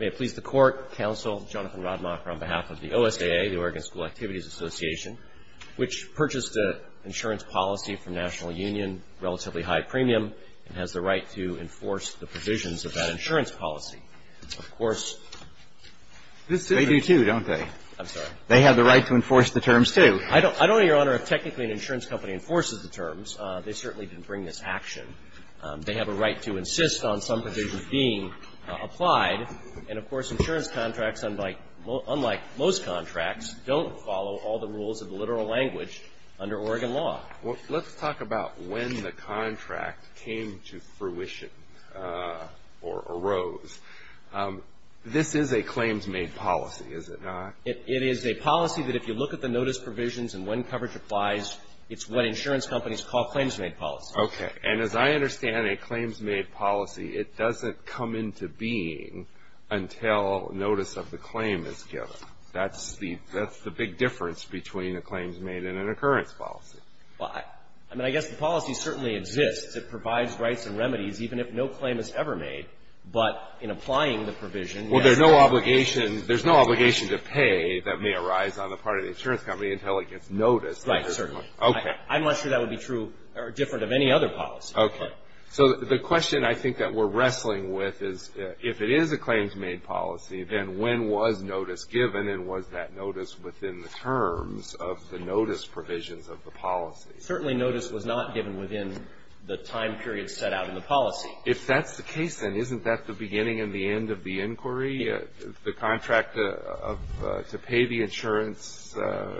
May it please the Court, Counsel, Jonathan Rodmacher on behalf of the OSAA, the Oregon School Activities Association, which purchased an insurance policy from National Union, relatively high premium, and has the right to enforce the provisions of that insurance policy. Of course, they do too, don't they? I'm sorry. They have the right to enforce the terms too. I don't know, Your Honor, if technically an insurance company enforces the terms. They certainly didn't bring this action. They have a right to insist on some provisions being applied. And, of course, insurance contracts, unlike most contracts, don't follow all the rules of the literal language under Oregon law. Well, let's talk about when the contract came to fruition or arose. This is a claims-made policy, is it not? It is a policy that if you look at the notice provisions and when coverage applies, it's what insurance companies call claims-made policy. Okay. And as I understand it, claims-made policy, it doesn't come into being until notice of the claim is given. That's the big difference between a claims-made and an occurrence policy. Well, I mean, I guess the policy certainly exists. It provides rights and remedies even if no claim is ever made. But in applying the provision, yes, there's no obligation to pay that may arise on the part of the insurance company until it gets noticed. Right. Certainly. Okay. I'm not sure that would be true or different of any other policy. Okay. So the question I think that we're wrestling with is if it is a claims-made policy, then when was notice given and was that notice within the terms of the notice provisions of the policy? Certainly notice was not given within the time period set out in the policy. If that's the case, then isn't that the beginning and the end of the inquiry? The contract of to pay the insurance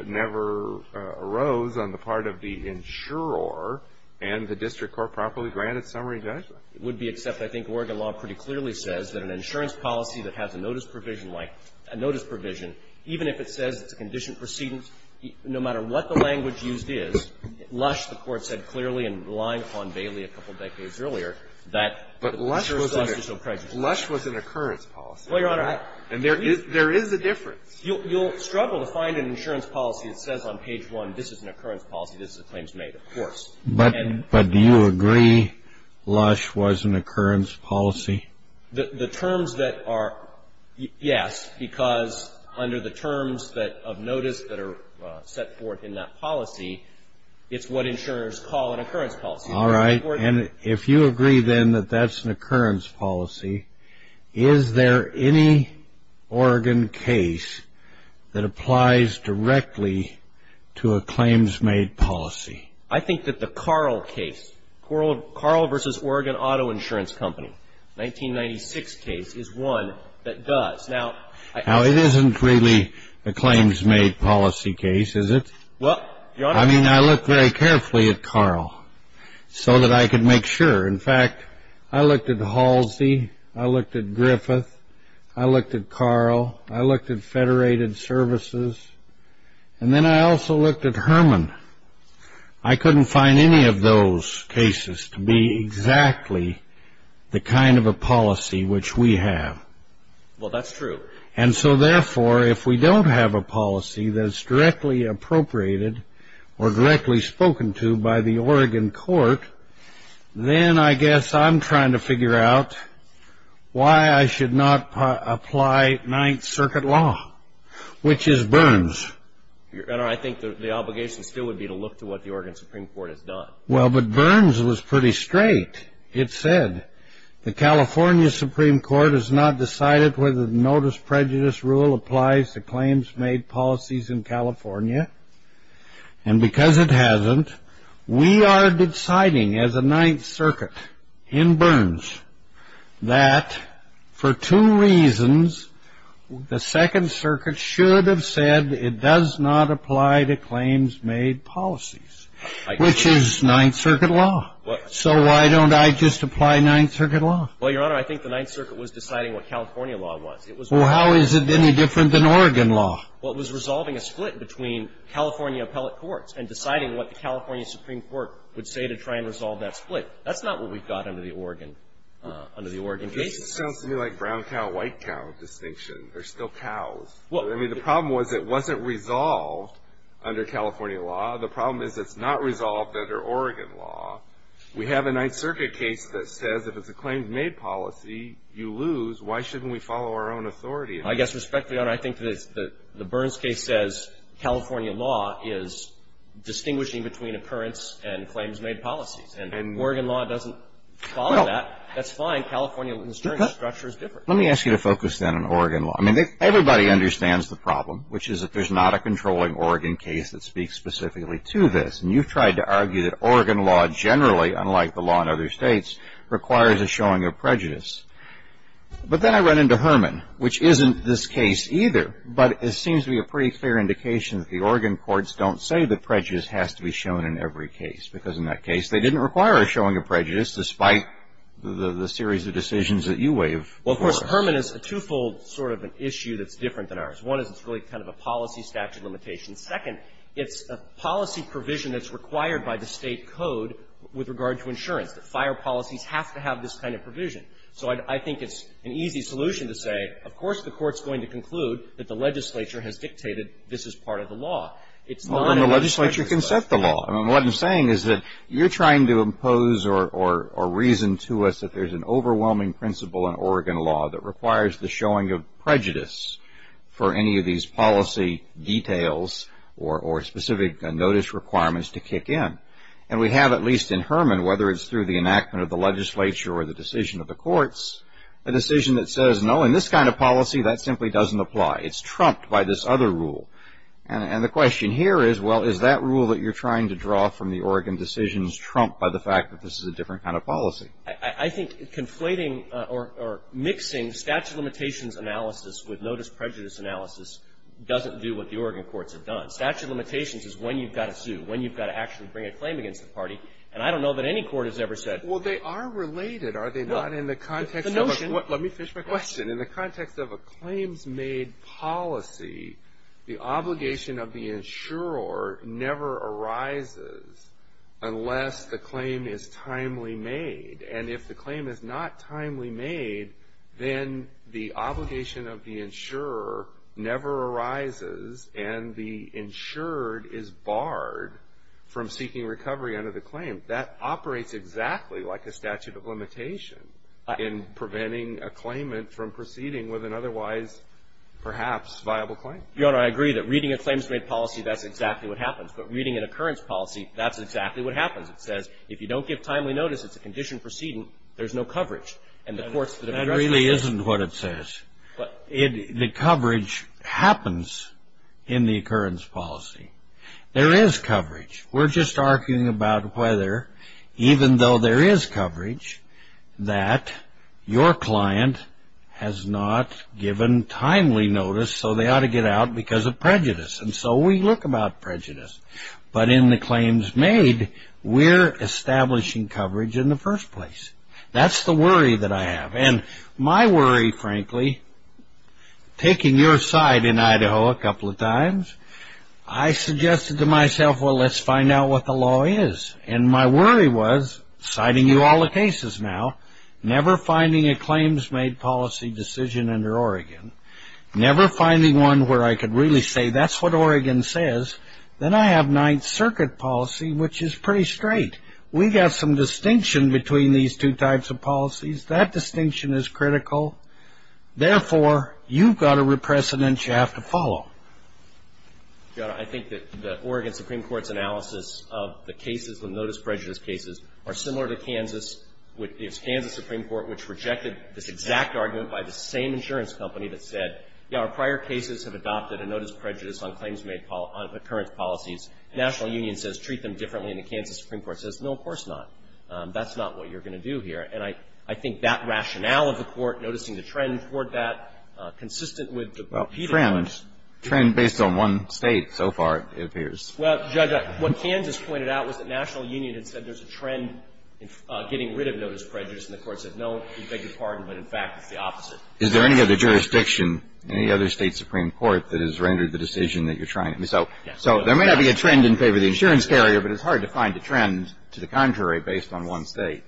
never arose on the part of the insurer and the district court properly granted summary judgment. It would be except I think Oregon law pretty clearly says that an insurance policy that has a notice provision like a notice provision, even if it says it's a condition precedence, no matter what the language used is, Lush, the Court said clearly in relying upon Bailey a couple decades earlier, that the procedure is supposed to show prejudice. But Lush was an occurrence policy. Well, Your Honor, I — And there is a difference. You'll struggle to find an insurance policy that says on page one, this is an occurrence policy, this is a claims-made, of course. But do you agree Lush was an occurrence policy? The terms that are — yes, because under the terms that — of notice that are set forth in that policy, it's what insurers call an occurrence policy. All right. And if you agree, then, that that's an occurrence policy, is there any Oregon case that applies directly to a claims-made policy? I think that the Carl case, Carl v. Oregon Auto Insurance Company, 1996 case, is one that does. Now — Now, it isn't really a claims-made policy case, is it? Well, Your Honor — I mean, I look very carefully at Carl. So that I can make sure. In fact, I looked at Halsey, I looked at Griffith, I looked at Carl, I looked at Federated Services, and then I also looked at Herman. I couldn't find any of those cases to be exactly the kind of a policy which we have. Well, that's true. And so, therefore, if we don't have a policy that's directly appropriated or directly spoken to by the Oregon court, then I guess I'm trying to figure out why I should not apply Ninth Circuit law, which is Burns. Your Honor, I think the obligation still would be to look to what the Oregon Supreme Court has done. Well, but Burns was pretty straight. It said, the California Supreme Court has not decided whether the notice prejudice rule applies to claims-made policies in California. And because it hasn't, we are deciding as a Ninth Circuit in Burns that for two reasons, the Second Circuit should have said it does not apply to claims-made policies, which is Ninth Circuit law. So why don't I just apply Ninth Circuit law? Well, Your Honor, I think the Ninth Circuit was deciding what California law was. It was — Well, how is it any different than Oregon law? Well, it was resolving a split between California appellate courts and deciding what the California Supreme Court would say to try and resolve that split. That's not what we've got under the Oregon — under the Oregon case. This sounds to me like brown cow, white cow distinction. They're still cows. Well — I mean, the problem was it wasn't resolved under California law. The problem is it's not resolved under Oregon law. We have a Ninth Circuit case that says if it's a claims-made policy, you lose. Why shouldn't we follow our own authority? I guess, respectfully, Your Honor, I think the Burns case says California law is distinguishing between occurrence and claims-made policies. And if Oregon law doesn't follow that, that's fine. California's structure is different. Let me ask you to focus, then, on Oregon law. I mean, everybody understands the problem, which is that there's not a controlling Oregon case that speaks specifically to this. And you've tried to argue that Oregon law generally, unlike the law in other States, requires a showing of prejudice. But then I run into Herman, which isn't this case either. But it seems to be a pretty clear indication that the Oregon courts don't say that prejudice has to be shown in every case, because in that case, they didn't require a showing of prejudice, despite the series of decisions that you waive for it. Well, of course, Herman is a twofold sort of an issue that's different than ours. One is it's really kind of a policy statute limitation. Second, it's a policy provision that's required by the State code with regard to insurance, that fire policies have to have this kind of provision. So I think it's an easy solution to say, of course, the court's going to conclude that the legislature has dictated this is part of the law. It's not a legislature's right. Well, and the legislature can set the law. I mean, what I'm saying is that you're trying to impose or reason to us that there's an overwhelming principle in Oregon law that requires the showing of prejudice for any of these policy details or specific notice requirements to kick in. And we have, at least in Herman, whether it's through the enactment of the legislature or the decision of the courts, a decision that says, no, in this kind of policy, that simply doesn't apply. It's trumped by this other rule. And the question here is, well, is that rule that you're trying to draw from the Oregon decisions trumped by the fact that this is a different kind of policy? I think conflating or mixing statute limitations analysis with notice prejudice analysis doesn't do what the Oregon courts have done. Statute limitations is when you've got to sue, when you've got to actually bring a claim against the party, and I don't know that any court has ever said. Well, they are related, are they not? In the context of a, let me finish my question. In the context of a claims-made policy, the obligation of the insurer never arises, unless the claim is timely made. And if the claim is not timely made, then the obligation of the insurer never arises, and the insured is barred from seeking recovery under the claim. That operates exactly like a statute of limitation in preventing a claimant from proceeding with an otherwise, perhaps, viable claim. Your Honor, I agree that reading a claims-made policy, that's exactly what happens. But reading an occurrence policy, that's exactly what happens. It says, if you don't give timely notice, it's a conditioned precedent, there's no coverage. And the courts that have addressed this say that. That really isn't what it says. The coverage happens in the occurrence policy. There is coverage. We're just arguing about whether, even though there is coverage, that your client has not given timely notice, so they ought to get out because of prejudice. And so we look about prejudice. But in the claims-made, we're establishing coverage in the first place. That's the worry that I have. And my worry, frankly, taking your side in Idaho a couple of times, I suggested to myself, well, let's find out what the law is. And my worry was, citing you all the cases now, never finding a claims-made policy decision under Oregon, never finding one where I could really say, that's what Oregon says. Then I have Ninth Circuit policy, which is pretty straight. We got some distinction between these two types of policies. That distinction is critical. Therefore, you've got a precedent you have to follow. I think that the Oregon Supreme Court's analysis of the cases, the notice prejudice cases, are similar to Kansas. It was Kansas Supreme Court which rejected this exact argument by the same insurance company that said, yes, our prior cases have adopted a notice prejudice on claims-made occurrence policies. National Union says treat them differently, and the Kansas Supreme Court says, no, of course not. That's not what you're going to do here. And I think that rationale of the Court noticing the trend toward that, consistent with the repeated ones. Well, trend, trend based on one State, so far, it appears. Well, Judge, what Kansas pointed out was that National Union had said there's a trend in getting rid of notice prejudice. And the Court said, no, we beg your pardon, but in fact, it's the opposite. Is there any other jurisdiction, any other State Supreme Court that has rendered the decision that you're trying to? So there may not be a trend in favor of the insurance carrier, but it's hard to find a trend to the contrary based on one State.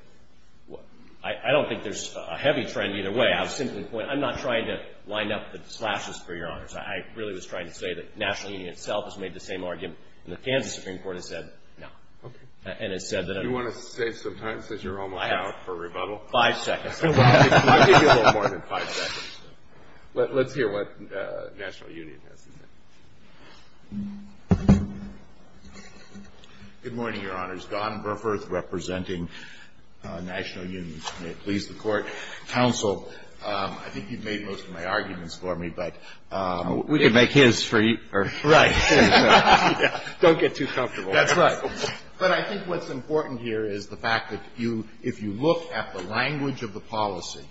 I don't think there's a heavy trend either way. I have a simple point. I'm not trying to line up the slashes for Your Honors. I really was trying to say that National Union itself has made the same argument. And the Kansas Supreme Court has said, no. Okay. And has said that- Do you want to stay some time since you're almost out for rebuttal? Five seconds. I'll give you a little more than five seconds. Let's hear what National Union has to say. Good morning, Your Honors. Don Burforth representing National Union. May it please the Court. Counsel, I think you've made most of my arguments for me, but- We can make his for you. Right. Don't get too comfortable. That's right. But I think what's important here is the fact that you, if you look at the language of the policy,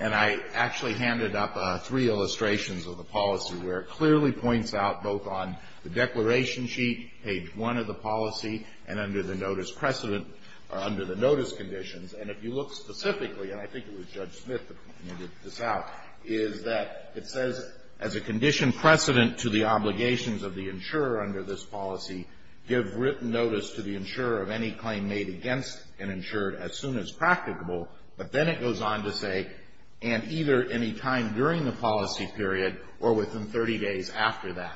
and I actually handed up three illustrations of the policy where it clearly points out both on the declaration sheet, page one of the policy, and under the notice precedent, or under the notice conditions. And if you look specifically, and I think it was Judge Smith that pointed this out, is that it says, as a condition precedent to the obligations of the insurer under this policy, give written notice to the insurer of any claim made against an insurer as soon as practicable. But then it goes on to say, and either any time during the policy period or within 30 days after that.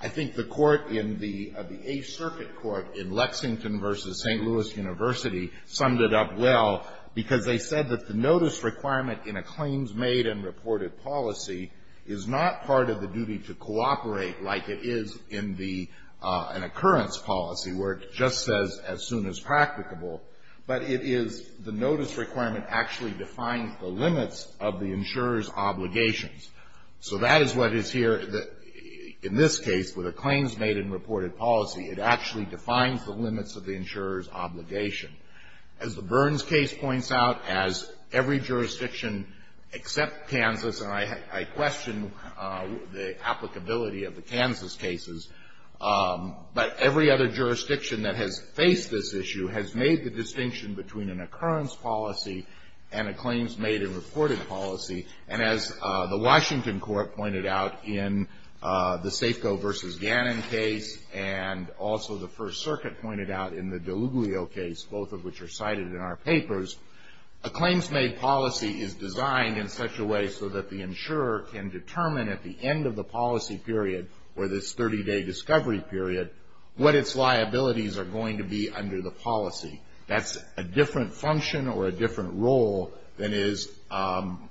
I think the court in the Eighth Circuit Court in Lexington versus St. Louis University summed it up well, because they said that the notice requirement in a claims made and reported policy is not part of the duty to cooperate like it is in an occurrence policy where it just says as soon as practicable. But it is the notice requirement actually defines the limits of the insurer's obligations. So that is what is here, in this case, with a claims made and reported policy. It actually defines the limits of the insurer's obligation. As the Burns case points out, as every jurisdiction except Kansas, and I question the applicability of the Kansas cases, but every other jurisdiction that has faced this issue has made the distinction between an occurrence policy and a claims made and reported policy. And as the Washington court pointed out in the Safeco versus Gannon case and also the First Circuit pointed out in the Deluglio case, both of which are cited in our papers, a claims made policy is designed in such a way so that the insurer can determine at the end of the policy period or this 30 day discovery period what its liabilities are going to be under the policy. That's a different function or a different role than is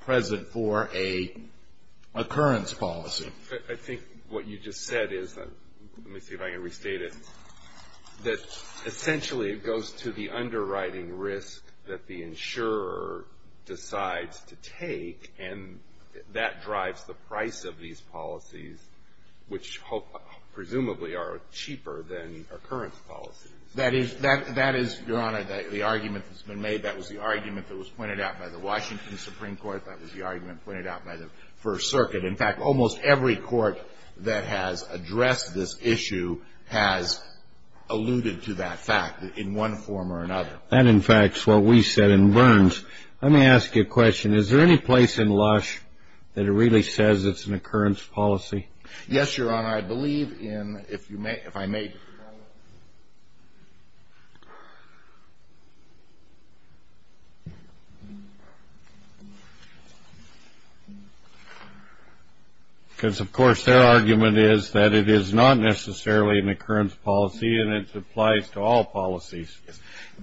present for a occurrence policy. I think what you just said is, let me see if I can restate it, that essentially it goes to the underwriting risk that the insurer decides to take. And that drives the price of these policies, which presumably are cheaper than occurrence policies. That is, Your Honor, the argument that's been made. That was the argument that was pointed out by the Washington Supreme Court. That was the argument pointed out by the First Circuit. In fact, almost every court that has addressed this issue has alluded to that fact in one form or another. That, in fact, is what we said in Burns. Let me ask you a question. Is there any place in Lush that it really says it's an occurrence policy? Yes, Your Honor, I believe in, if I may. Because, of course, their argument is that it is not necessarily an occurrence policy, and it applies to all policies.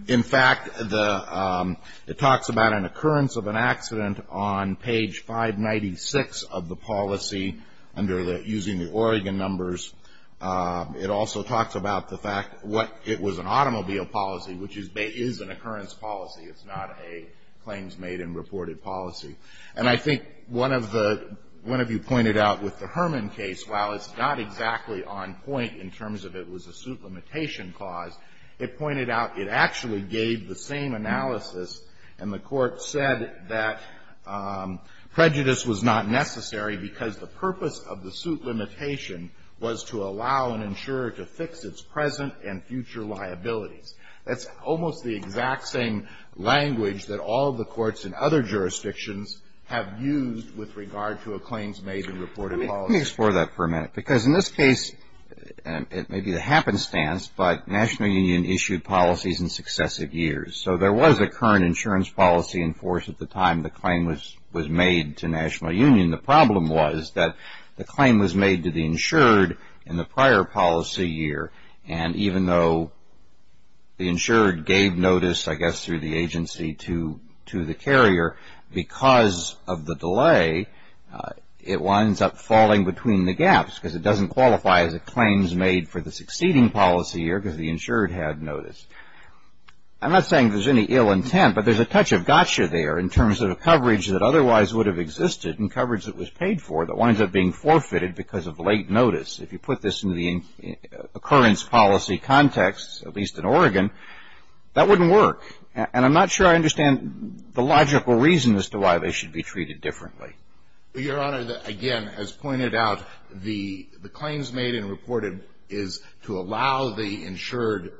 In fact, it talks about an occurrence of an accident on page 596 of the policy, under the, using the Oregon numbers. It also talks about the fact what it was an automobile policy, which is an occurrence policy. It's not a claims made and reported policy. And I think one of the, one of you pointed out with the Herman case, while it's not exactly on point in terms of it was a suit limitation clause, it pointed out it actually gave the same analysis, and the Court said that prejudice was not necessary because the purpose of the suit limitation was to allow an insurer to fix its present and future liabilities. That's almost the exact same language that all the courts in other jurisdictions have used with regard to a claims made and reported policy. Let me explore that for a minute. Because in this case, it may be the happenstance, but National Union issued policies in successive years. So there was a current insurance policy in force at the time the claim was made to National Union. The problem was that the claim was made to the insured in the prior policy year. And even though the insured gave notice, I guess, through the agency to the carrier, because of the delay, it winds up falling between the gaps because it doesn't qualify as a claims made for the succeeding policy year because the insured had notice. I'm not saying there's any ill intent, but there's a touch of gotcha there in terms of the coverage that otherwise would have existed and coverage that was paid for that winds up being forfeited because of late notice. If you put this in the occurrence policy context, at least in Oregon, that wouldn't work. And I'm not sure I understand the logical reason as to why they should be treated differently. Your Honor, again, as pointed out, the claims made and reported is to allow the insurer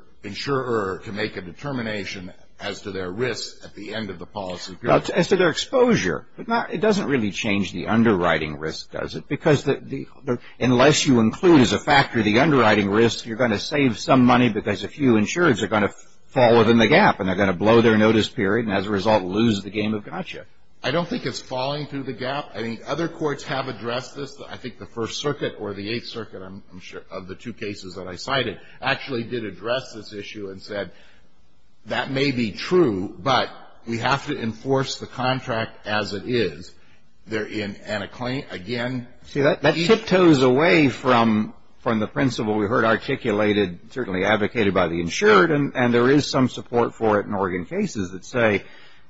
to make a determination as to their risk at the end of the policy period. As to their exposure. But it doesn't really change the underwriting risk, does it? Because unless you include as a factor the underwriting risk, you're going to save some money because a few insurers are going to fall within the gap and they're going to blow their notice period and, as a result, lose the game of gotcha. I don't think it's falling through the gap. I think other courts have addressed this. I think the First Circuit or the Eighth Circuit, I'm sure, of the two cases that I cited, actually did address this issue and said, that may be true, but we have to enforce the contract as it is. And a claim, again... See, that tiptoes away from the principle we heard articulated, certainly advocated by the insured, and there is some support for it in Oregon cases that say,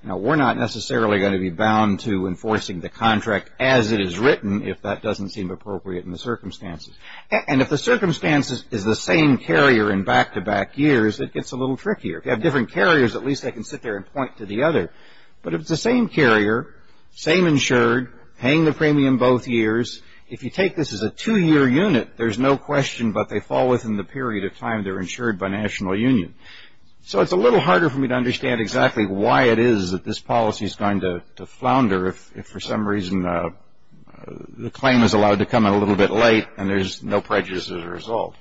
we're not necessarily going to be bound to enforcing the contract as it is written if that doesn't seem appropriate in the circumstances. And if the circumstances is the same carrier in back-to-back years, it gets a little trickier. If you have different carriers, at least they can sit there and point to the other. But if it's the same carrier, same insured, paying the premium both years, if you take this as a two-year unit, there's no question, but they fall within the period of time they're insured by national union. So it's a little harder for me to understand exactly why it is that this policy is going to flounder if, for some reason, the claim is allowed to come in a little bit late and there's no prejudice as a result.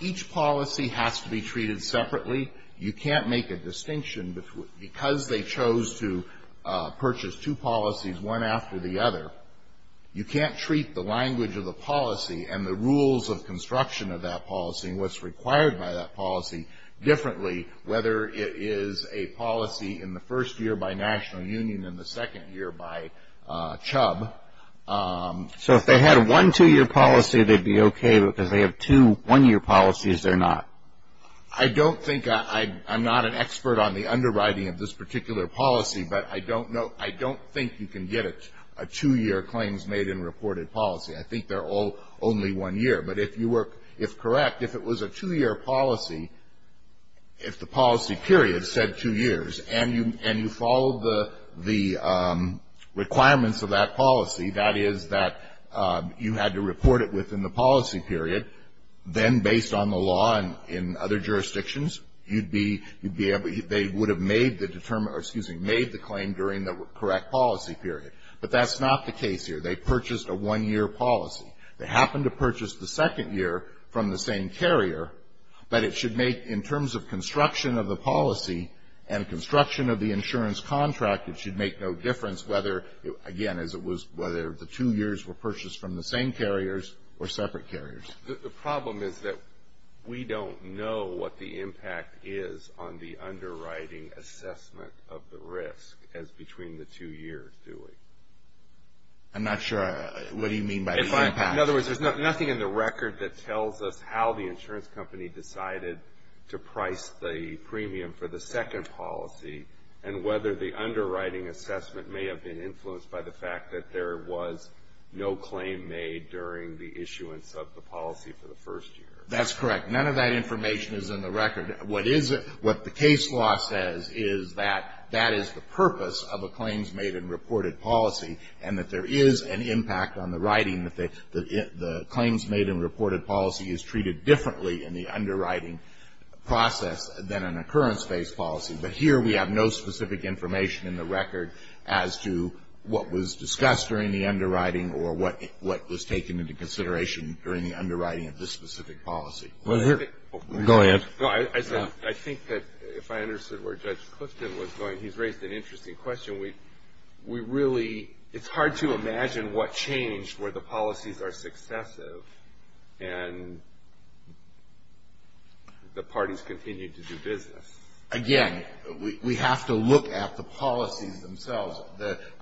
Each policy has to be treated separately. You can't make a distinction because they chose to purchase two policies one after the other. You can't treat the language of the policy and the rules of construction of that policy and what's required by that policy differently, whether it is a policy in the first year by national union and the second year by chub. So if they had one two-year policy, they'd be okay, but because they have two one-year policies, they're not? I don't think I'm not an expert on the underwriting of this particular policy, but I don't know, I don't think you can get a two-year claims made in reported policy. I think they're all only one year. But if you were, if correct, if it was a two-year policy, if the policy period said two years and you followed the requirements of that policy, that is that you had to report it within the policy period, then based on the law and in other jurisdictions, you'd be able, they would have made the claim during the correct policy period. But that's not the case here. They purchased a one-year policy. They happened to purchase the second year from the same carrier, but it should make, in terms of construction of the policy and construction of the insurance contract, it should make no difference whether, again, as it was whether the two years were purchased from the same carriers or separate carriers. The problem is that we don't know what the impact is on the underwriting assessment of the risk as between the two years, do we? I'm not sure what do you mean by the impact? In other words, there's nothing in the record that tells us how the insurance company decided to price the premium for the second policy and whether the underwriting assessment may have been influenced by the fact that there was no claim made during the issuance of the policy for the first year. That's correct. None of that information is in the record. What the case law says is that that is the purpose of a claims-made and reported policy and that there is an impact on the writing that the claims-made and reported policy is treated differently in the underwriting process than an occurrence-based policy. But here we have no specific information in the record as to what was discussed during the underwriting or what was taken into consideration during the underwriting of this specific policy. Go ahead. I think that if I understood where Judge Clifton was going, he's raised an interesting question. We really, it's hard to imagine what changed where the policies are successive and the parties continue to do business. Again, we have to look at the policies themselves.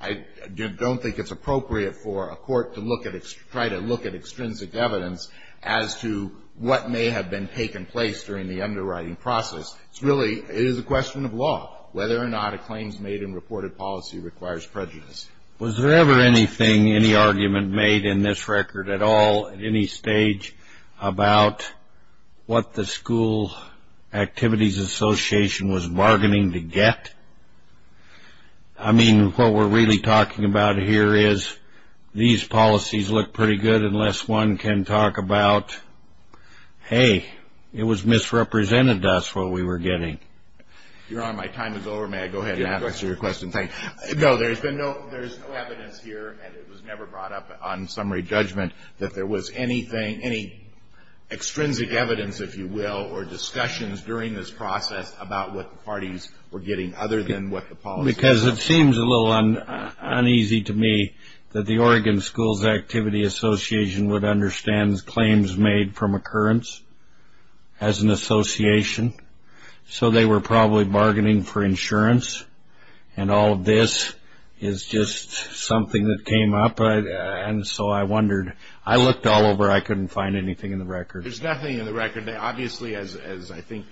I don't think it's appropriate for a court to try to look at extrinsic evidence as to what may have been taken place during the underwriting process. It's really, it is a question of law whether or not a claims-made and reported policy requires prejudice. Was there ever anything, any argument made in this record at all at any stage about what the School Activities Association was bargaining to get? I mean, what we're really talking about here is these policies look pretty good unless one can talk about, hey, it was misrepresented to us what we were getting. Your Honor, my time is over. May I go ahead and answer your question? No, there's been no, there's no evidence here and it was never brought up on summary judgment that there was anything, any extrinsic evidence, if you will, or discussions during this process about what the parties were getting other than what the policies were. Because it seems a little uneasy to me that the Oregon Schools Activity Association would understand claims made from occurrence as an association. So they were probably bargaining for insurance and all of this is just something that came up. And so I wondered, I looked all over. I couldn't find anything in the record. There's nothing in the record. Obviously, as I think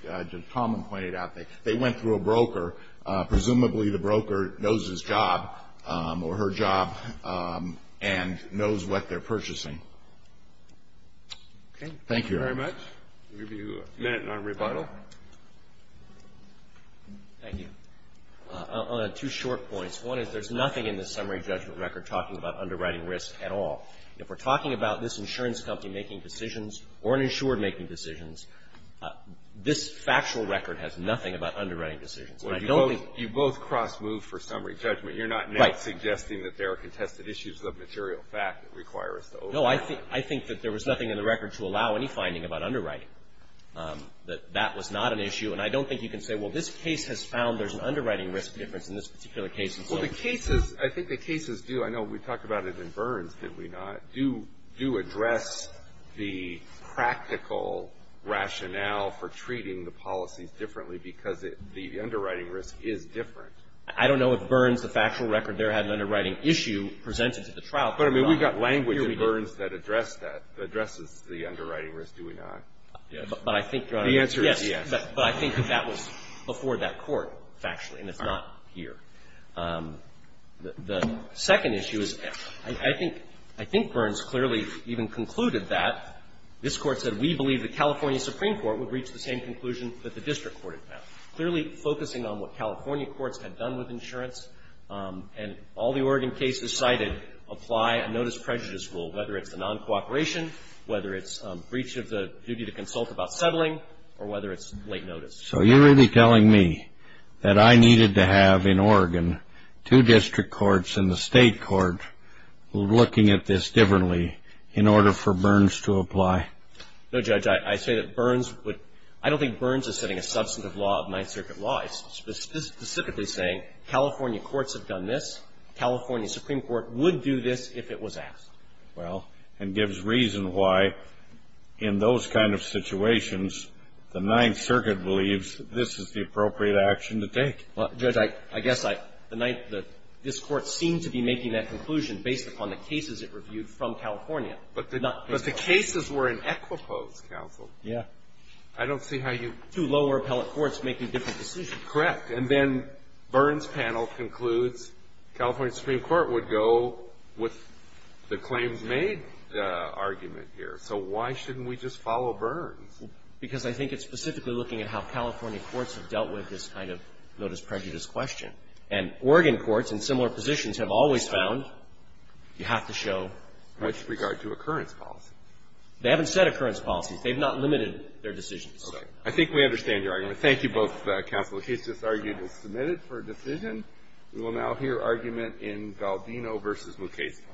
Tom pointed out, they went through a broker. Presumably the broker knows his job or her job and knows what they're purchasing. Okay. Thank you very much. We'll give you a minute on rebuttal. Thank you. I'll add two short points. One is there's nothing in the summary judgment record talking about underwriting risk at all. If we're talking about this insurance company making decisions or an insured making decisions, this factual record has nothing about underwriting decisions. I don't think You both cross-moved for summary judgment. You're not suggesting that there are contested issues of material fact that require us to override. No, I think that there was nothing in the record to allow any finding about underwriting. That that was not an issue. And I don't think you can say, well, this case has found there's an underwriting risk difference. Well, the cases, I think the cases do. I know we talked about it in Burns, did we not? Do address the practical rationale for treating the policies differently because the underwriting risk is different. I don't know if Burns, the factual record there, had an underwriting issue presented to the trial. But I mean, we got language in Burns that addressed that, addresses the underwriting risk, do we not? But I think The answer is yes. But I think that that was before that court, factually, and it's not here. The second issue is, I think Burns clearly even concluded that. This Court said we believe the California Supreme Court would reach the same conclusion that the district court had found. Clearly focusing on what California courts had done with insurance and all the Oregon cases cited apply a notice prejudice rule, whether it's a non-cooperation, whether it's breach of the duty to consult about settling, or whether it's late notice. So you're really telling me that I needed to have in Oregon two district courts and the state court looking at this differently in order for Burns to apply? No, Judge, I say that Burns would, I don't think Burns is setting a substantive law of Ninth Circuit law. It's specifically saying California courts have done this. California Supreme Court would do this if it was asked. Well, and gives reason why, in those kind of situations, the Ninth Circuit believes this is the appropriate action to take. Well, Judge, I guess I, the Ninth, this Court seemed to be making that conclusion based upon the cases it reviewed from California. But the cases were in Equipose, counsel. Yeah. I don't see how you Two lower appellate courts making different decisions. Correct. And then Burns' panel concludes California Supreme Court would go with the claims made argument here. So why shouldn't we just follow Burns? Because I think it's specifically looking at how California courts have dealt with this kind of notice prejudice question. And Oregon courts in similar positions have always found you have to show prejudice. With regard to occurrence policies. They haven't said occurrence policies. They've not limited their decisions. Okay. I think we understand your argument. Thank you both, counsel. The case just argued is submitted for decision. We will now hear argument in Valdino v. Mukasey.